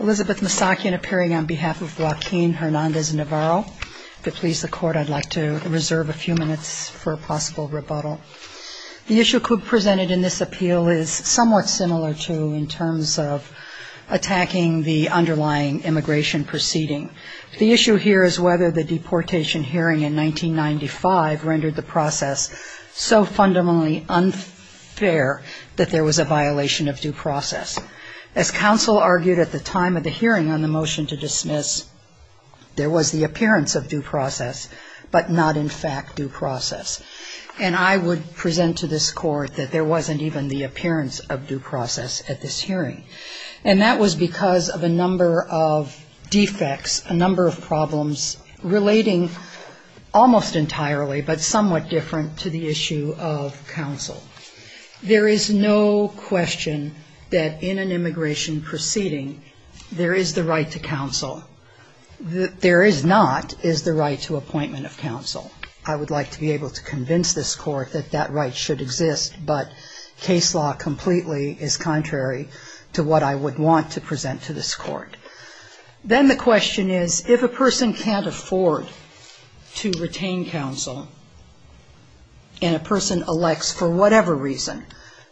Elizabeth Masakin appearing on behalf of Joaquin Hernandez-Navarro. If it pleases the court, I'd like to reserve a few minutes for a possible rebuttal. The issue presented in this appeal is somewhat similar to in terms of attacking the underlying immigration proceeding. The issue here is whether the deportation hearing in 1995 rendered the process so fundamentally unfair that there was a violation of due process. As counsel argued at the time of the hearing on the motion to dismiss, there was the appearance of due process but not in fact due process. And I would present to this court that there wasn't even the appearance of due process at this hearing. And that was because of a number of defects, a number of problems relating almost entirely but somewhat different to the issue of counsel. There is no question that in an immigration proceeding, there is the right to counsel. There is not is the right to appointment of counsel. I would like to be able to convince this court that that right should exist. But case law completely is contrary to what I would want to present to this court. Then the question is if a person can't afford to retain counsel and a person elects for whatever reason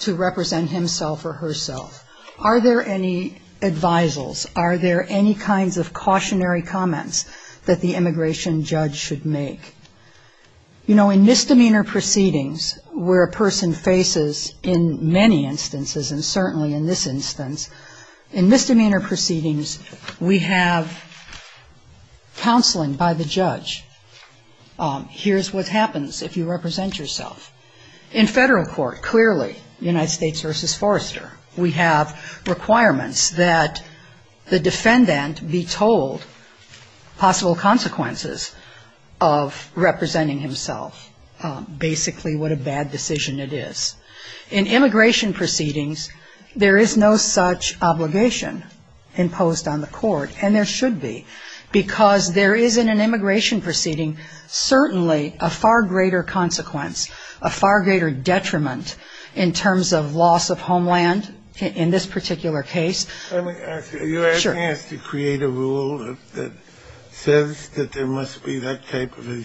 to represent himself or herself, are there any advisals, are there any kinds of cautionary comments that the immigration judge should make? You know, in misdemeanor proceedings where a person faces in many instances and certainly in this instance, in misdemeanor proceedings, we have counseling by the judge. Here's what happens if you represent yourself. In federal court, clearly, United States versus Forrester, we have requirements that the defendant be told possible consequences of representing himself, basically what a bad decision it is. In immigration proceedings, there is no such obligation imposed on the court, and there should be, because there is in an immigration proceeding certainly a far greater consequence, a far greater detriment in terms of loss of homeland in this particular case. Let me ask you, are you asking us to create a rule that says that there must be that type of a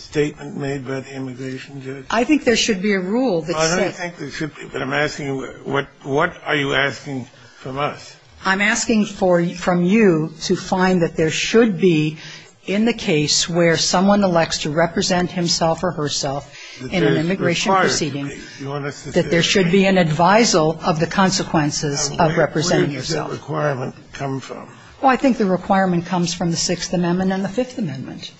statement made by the immigration judge? I think there should be a rule that says that. I don't think there should be, but I'm asking you, what are you asking from us? I'm asking from you to find that there should be in the case where someone elects to represent himself or herself in an immigration proceeding, that there should be an advisal of the consequences of representing yourself. Where does that requirement come from? Well, I think the requirement comes from the Sixth Amendment and the Fifth Amendment,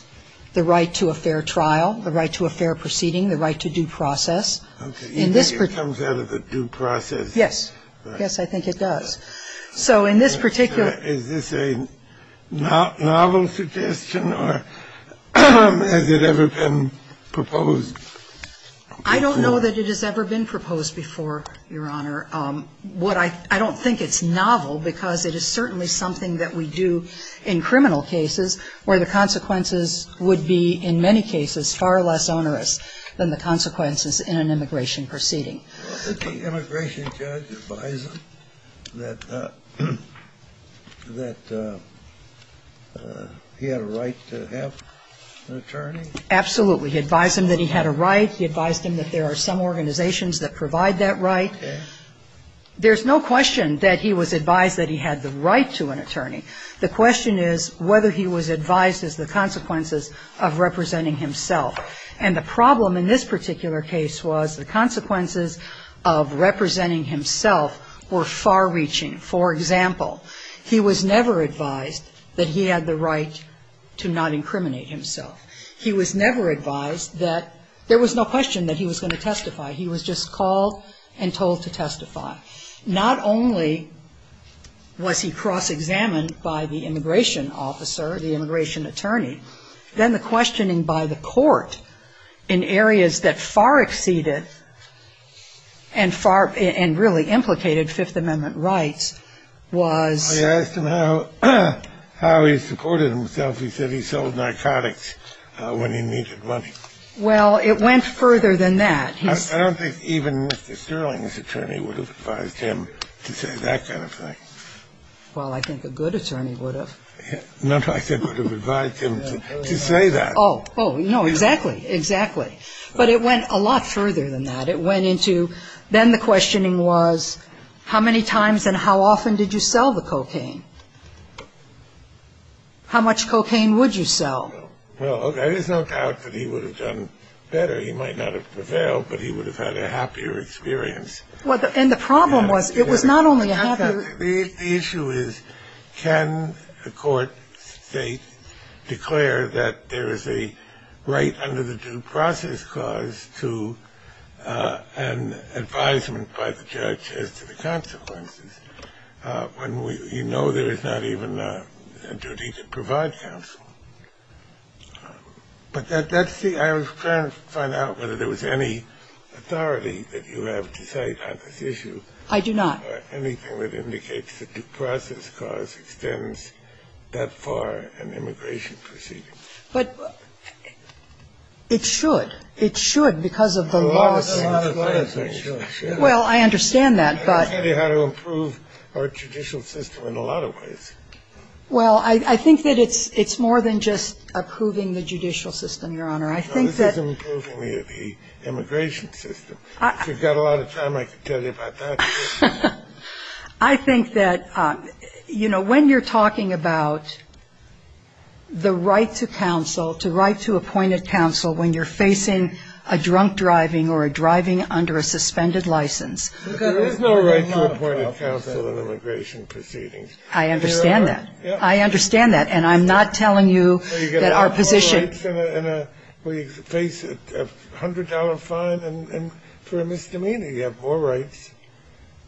the right to a fair trial, the right to a fair proceeding, the right to due process. Okay. You think it comes out of the due process? Yes. Yes, I think it does. So in this particular Is this a novel suggestion or has it ever been proposed? I don't know that it has ever been proposed before, Your Honor. What I don't think it's novel because it is certainly something that we do in criminal cases where the consequences would be in many cases far less onerous than the consequences in an immigration proceeding. Did the immigration judge advise him that he had a right to have an attorney? Absolutely. He advised him that he had a right. He advised him that there are some organizations that provide that right. Okay. There's no question that he was advised that he had the right to an attorney. The question is whether he was advised as the consequences of representing himself. And the problem in this particular case was the consequences of representing himself were far-reaching. For example, he was never advised that he had the right to not incriminate himself. He was never advised that there was no question that he was going to testify. He was just called and told to testify. Not only was he cross-examined by the immigration officer, the immigration attorney, then the questioning by the court in areas that far exceeded and really implicated Fifth Amendment rights was I asked him how he supported himself. He said he sold narcotics when he needed money. Well, it went further than that. I don't think even Mr. Sterling's attorney would have advised him to say that kind of thing. Well, I think a good attorney would have. No, I said would have advised him to say that. Oh, no, exactly. Exactly. But it went a lot further than that. It went into then the questioning was how many times and how often did you sell the cocaine? How much cocaine would you sell? Well, there is no doubt that he would have done better. He might not have prevailed, but he would have had a happier experience. And the problem was it was not only a happier experience. The issue is can a court state, declare that there is a right under the due process clause to an advisement by the judge as to the consequences when you know there is not even a duty to provide counsel. But that's the – I'm trying to find out whether there was any authority that you have to cite on this issue. I do not. Anything that indicates the due process clause extends that far in immigration proceedings. But it should. It should because of the laws. A lot of things should. Well, I understand that, but – I understand how to improve our judicial system in a lot of ways. Well, I think that it's more than just approving the judicial system, Your Honor. I think that – No, this is improving the immigration system. If you've got a lot of time, I can tell you about that. I think that, you know, when you're talking about the right to counsel, to right to appointed counsel when you're facing a drunk driving or a driving under a suspended license. There is no right to appointed counsel in immigration proceedings. I understand that. There are. I understand that. And I'm not telling you that our position – Well, you've got to have more rights in a – when you face a $100 fine for a misdemeanor, you have more rights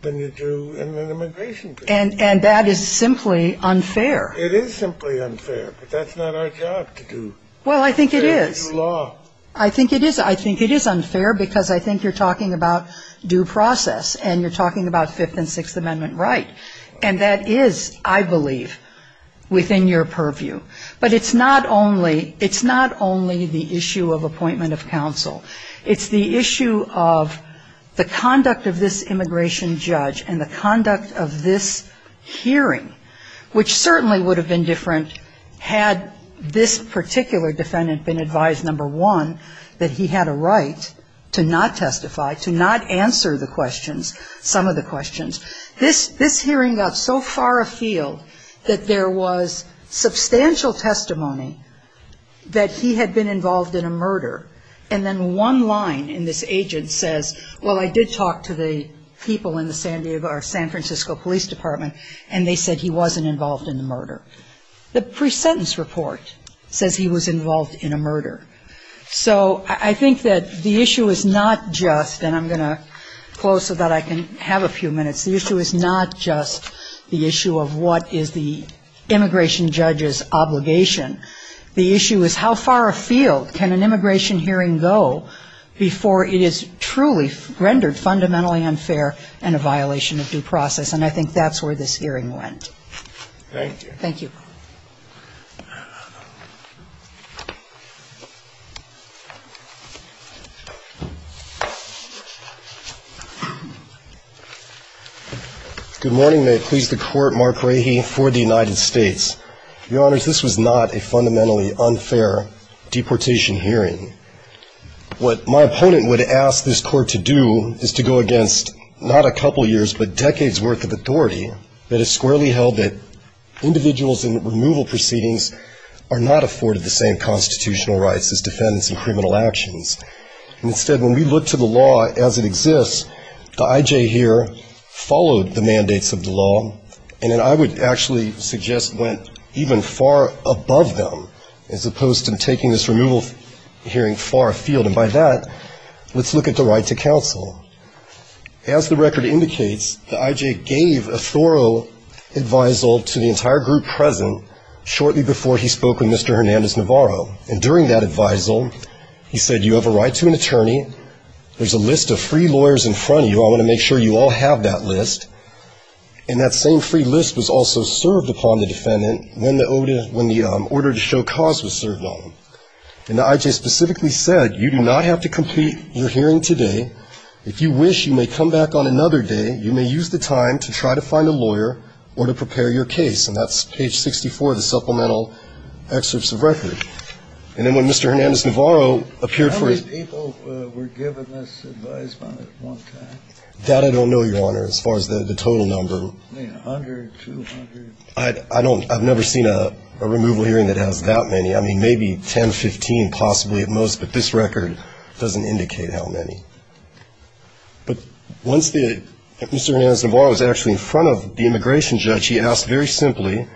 than you do in an immigration case. And that is simply unfair. It is simply unfair, but that's not our job to do. Well, I think it is. It's not fair to do law. I think it is. I think it is unfair because I think you're talking about due process and you're talking about Fifth and Sixth Amendment right. And that is, I believe, within your purview. But it's not only the issue of appointment of counsel. It's the issue of the conduct of this immigration judge and the conduct of this hearing, which certainly would have been different had this particular defendant been advised, number one, that he had a right to not testify, to not answer the questions, some of the questions. This hearing got so far afield that there was substantial testimony that he had been involved in a murder. And then one line in this agent says, well, I did talk to the people in the San Francisco Police Department, and they said he wasn't involved in the murder. The pre-sentence report says he was involved in a murder. So I think that the issue is not just – and I'm going to close so that I can have a few minutes. The issue is not just the issue of what is the immigration judge's obligation. The issue is how far afield can an immigration hearing go before it is truly rendered fundamentally unfair and a violation of due process. And I think that's where this hearing went. Thank you. Thank you. Good morning. May it please the Court, Mark Rahe for the United States. Your Honors, this was not a fundamentally unfair deportation hearing. What my opponent would ask this Court to do is to go against not a couple years, but decades' worth of authority that has squarely held that individuals in removal proceedings are not afforded the same constitutional rights as defendants in criminal actions. And instead, when we look to the law as it exists, the I.J. here followed the mandates of the law, and then I would actually suggest went even far above them, as opposed to taking this removal hearing far afield. And by that, let's look at the right to counsel. As the record indicates, the I.J. gave a thorough advisal to the entire group present shortly before he spoke with Mr. Hernandez-Navarro. And during that advisal, he said, you have a right to an attorney. There's a list of free lawyers in front of you. I want to make sure you all have that list. And that same free list was also served upon the defendant when the order to show cause was served on him. And the I.J. specifically said, you do not have to complete your hearing today. If you wish, you may come back on another day. You may use the time to try to find a lawyer or to prepare your case. And that's page 64 of the supplemental excerpts of record. And then when Mr. Hernandez-Navarro appeared for his ---- How many people were given this advisement at one time? That I don't know, Your Honor, as far as the total number. I mean, 100, 200? I don't know. I've never seen a removal hearing that has that many. I mean, maybe 10, 15 possibly at most, but this record doesn't indicate how many. But once Mr. Hernandez-Navarro was actually in front of the immigration judge, he asked very simply,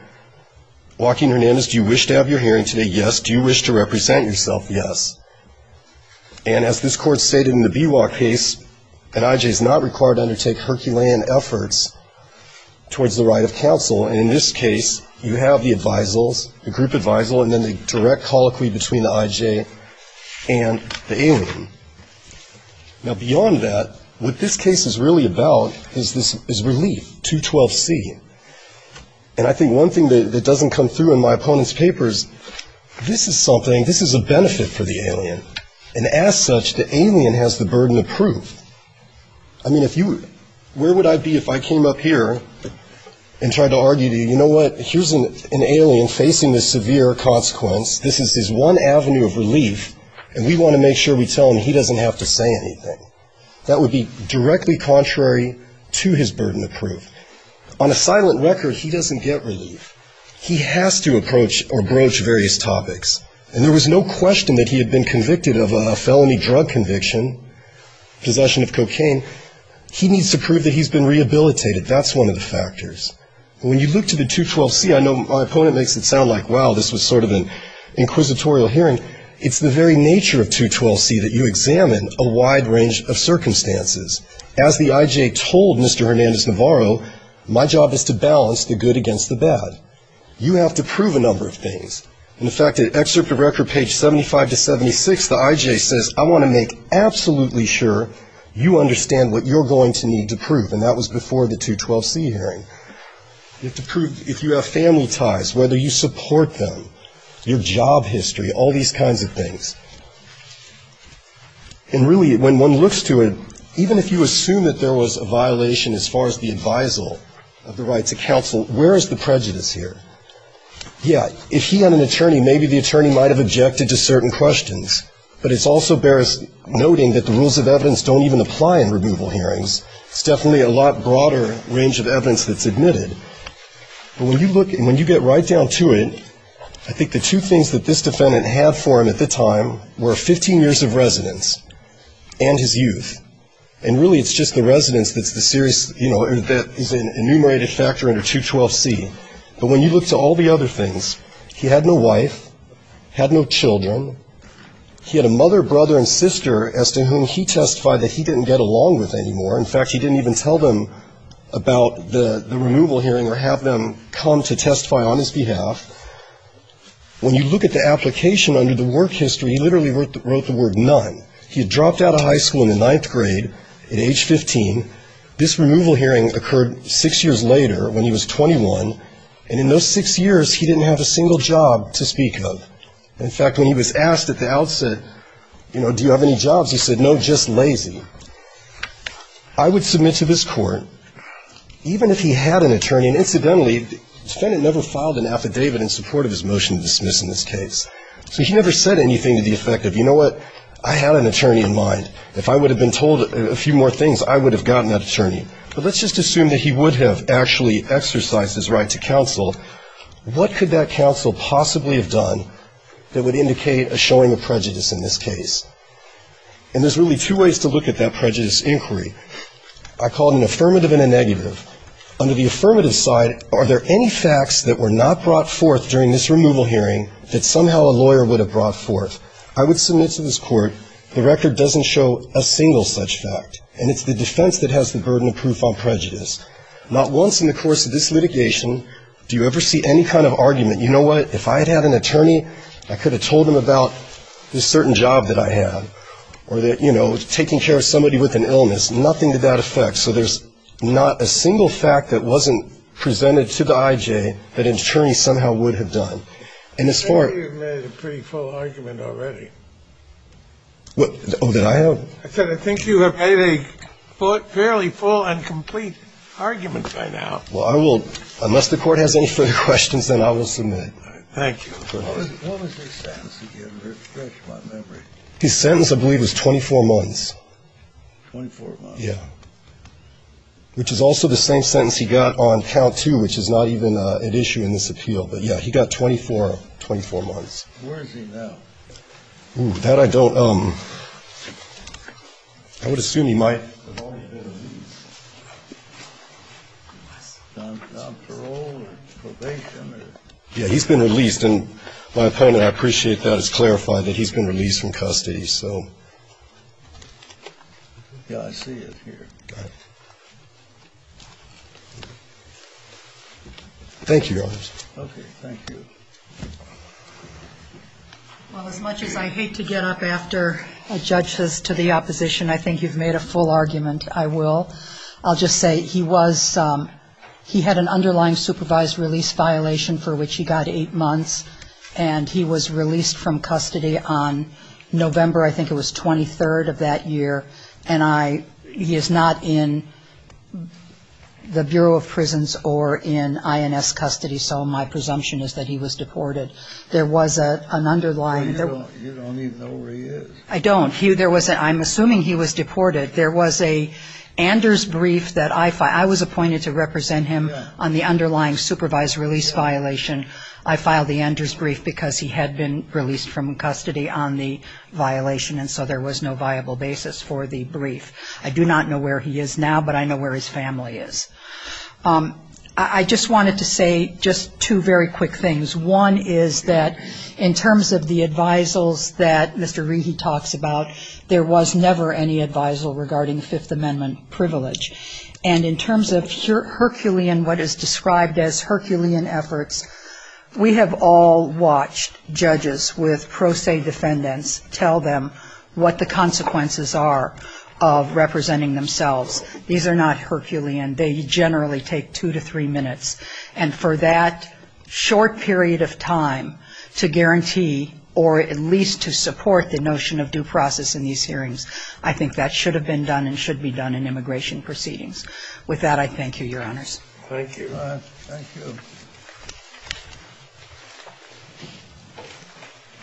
Joaquin Hernandez, do you wish to have your hearing today? Yes. Do you wish to represent yourself? Yes. And as this Court stated in the B.W.A. case, that I.J. is not required to undertake Herculean efforts towards the right of counsel. And in this case, you have the advisals, the group advisal, and then the direct colloquy between the I.J. and the alien. Now, beyond that, what this case is really about is relief, 212C. And I think one thing that doesn't come through in my opponent's paper is this is something, this is a benefit for the alien. And as such, the alien has the burden of proof. I mean, where would I be if I came up here and tried to argue to you, you know what, here's an alien facing this severe consequence, this is his one avenue of relief, and we want to make sure we tell him he doesn't have to say anything. That would be directly contrary to his burden of proof. On a silent record, he doesn't get relief. He has to approach or broach various topics. And there was no question that he had been convicted of a felony drug conviction, possession of cocaine. He needs to prove that he's been rehabilitated. That's one of the factors. When you look to the 212C, I know my opponent makes it sound like, wow, this was sort of an inquisitorial hearing. It's the very nature of 212C that you examine a wide range of circumstances. As the I.J. told Mr. Hernandez-Navarro, my job is to balance the good against the bad. You have to prove a number of things. In fact, at excerpt of record page 75 to 76, the I.J. says, I want to make absolutely sure you understand what you're going to need to prove, and that was before the 212C hearing. You have to prove if you have family ties, whether you support them, your job history, all these kinds of things. And really, when one looks to it, even if you assume that there was a violation as far as the advisal of the right to counsel, where is the prejudice here? Yeah, if he had an attorney, maybe the attorney might have objected to certain questions, but it also bears noting that the rules of evidence don't even apply in removal hearings. It's definitely a lot broader range of evidence that's admitted. But when you look and when you get right down to it, I think the two things that this defendant had for him at the time were 15 years of residence and his youth. And really, it's just the residence that's the serious, you know, that is an enumerated factor under 212C. But when you look to all the other things, he had no wife, had no children. He had a mother, brother, and sister as to whom he testified that he didn't get along with anymore. In fact, he didn't even tell them about the removal hearing or have them come to testify on his behalf. When you look at the application under the work history, he literally wrote the word none. He had dropped out of high school in the ninth grade at age 15. This removal hearing occurred six years later when he was 21. And in those six years, he didn't have a single job to speak of. In fact, when he was asked at the outset, you know, do you have any jobs, he said, no, just lazy. I would submit to this court, even if he had an attorney, and incidentally, the defendant never filed an affidavit in support of his motion to dismiss in this case. So he never said anything to the effect of, you know what, I had an attorney in mind. If I would have been told a few more things, I would have gotten that attorney. But let's just assume that he would have actually exercised his right to counsel. What could that counsel possibly have done that would indicate a showing of prejudice in this case? And there's really two ways to look at that prejudice inquiry. I call it an affirmative and a negative. Under the affirmative side, are there any facts that were not brought forth during this removal hearing that somehow a lawyer would have brought forth? I would submit to this court the record doesn't show a single such fact, and it's the defense that has the burden of proof on prejudice. Not once in the course of this litigation do you ever see any kind of argument, you know what, if I had had an attorney, I could have told him about this certain job that I had, or that, you know, taking care of somebody with an illness. Nothing to that effect. So there's not a single fact that wasn't presented to the I.J. that an attorney somehow would have done. I think you've made a pretty full argument already. Oh, did I? I said I think you have made a fairly full and complete argument by now. Well, I will, unless the Court has any further questions, then I will submit. All right. Thank you. What was his sentence again? It's fresh in my memory. His sentence, I believe, was 24 months. 24 months. Yeah. Which is also the same sentence he got on count two, which is not even at issue in this appeal. But, yeah, he got 24 months. Where is he now? Oh, that I don't know. I would assume he might. Has he been released? Non-parole or probation? Yeah, he's been released. And my opponent, I appreciate that, has clarified that he's been released from custody. Yeah, I see it here. Got it. Thank you, Your Honors. Okay. Thank you. Well, as much as I hate to get up after judges to the opposition, I think you've made a full argument. I will. I'll just say he was he had an underlying supervised release violation for which he got eight months, and he was released from custody on November, I think it was, 23rd of that year. And he is not in the Bureau of Prisons or in INS custody. So my presumption is that he was deported. There was an underlying Well, you don't even know where he is. I don't. I'm assuming he was deported. There was a Anders brief that I filed. I was appointed to represent him on the underlying supervised release violation. I filed the Anders brief because he had been released from custody on the violation, and so there was no viable basis for the brief. I do not know where he is now, but I know where his family is. I just wanted to say just two very quick things. One is that in terms of the advisals that Mr. Regan talks about, there was never any advisal regarding Fifth Amendment privilege. And in terms of Herculean, what is described as Herculean efforts, we have all watched judges with pro se defendants tell them what the consequences are of representing themselves. These are not Herculean. They generally take two to three minutes. And for that short period of time to guarantee or at least to support the notion of due process in these hearings, I think that should have been done and should be done in immigration proceedings. With that, I thank you, Your Honors. Thank you. Thank you.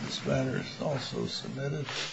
This matter is also submitted.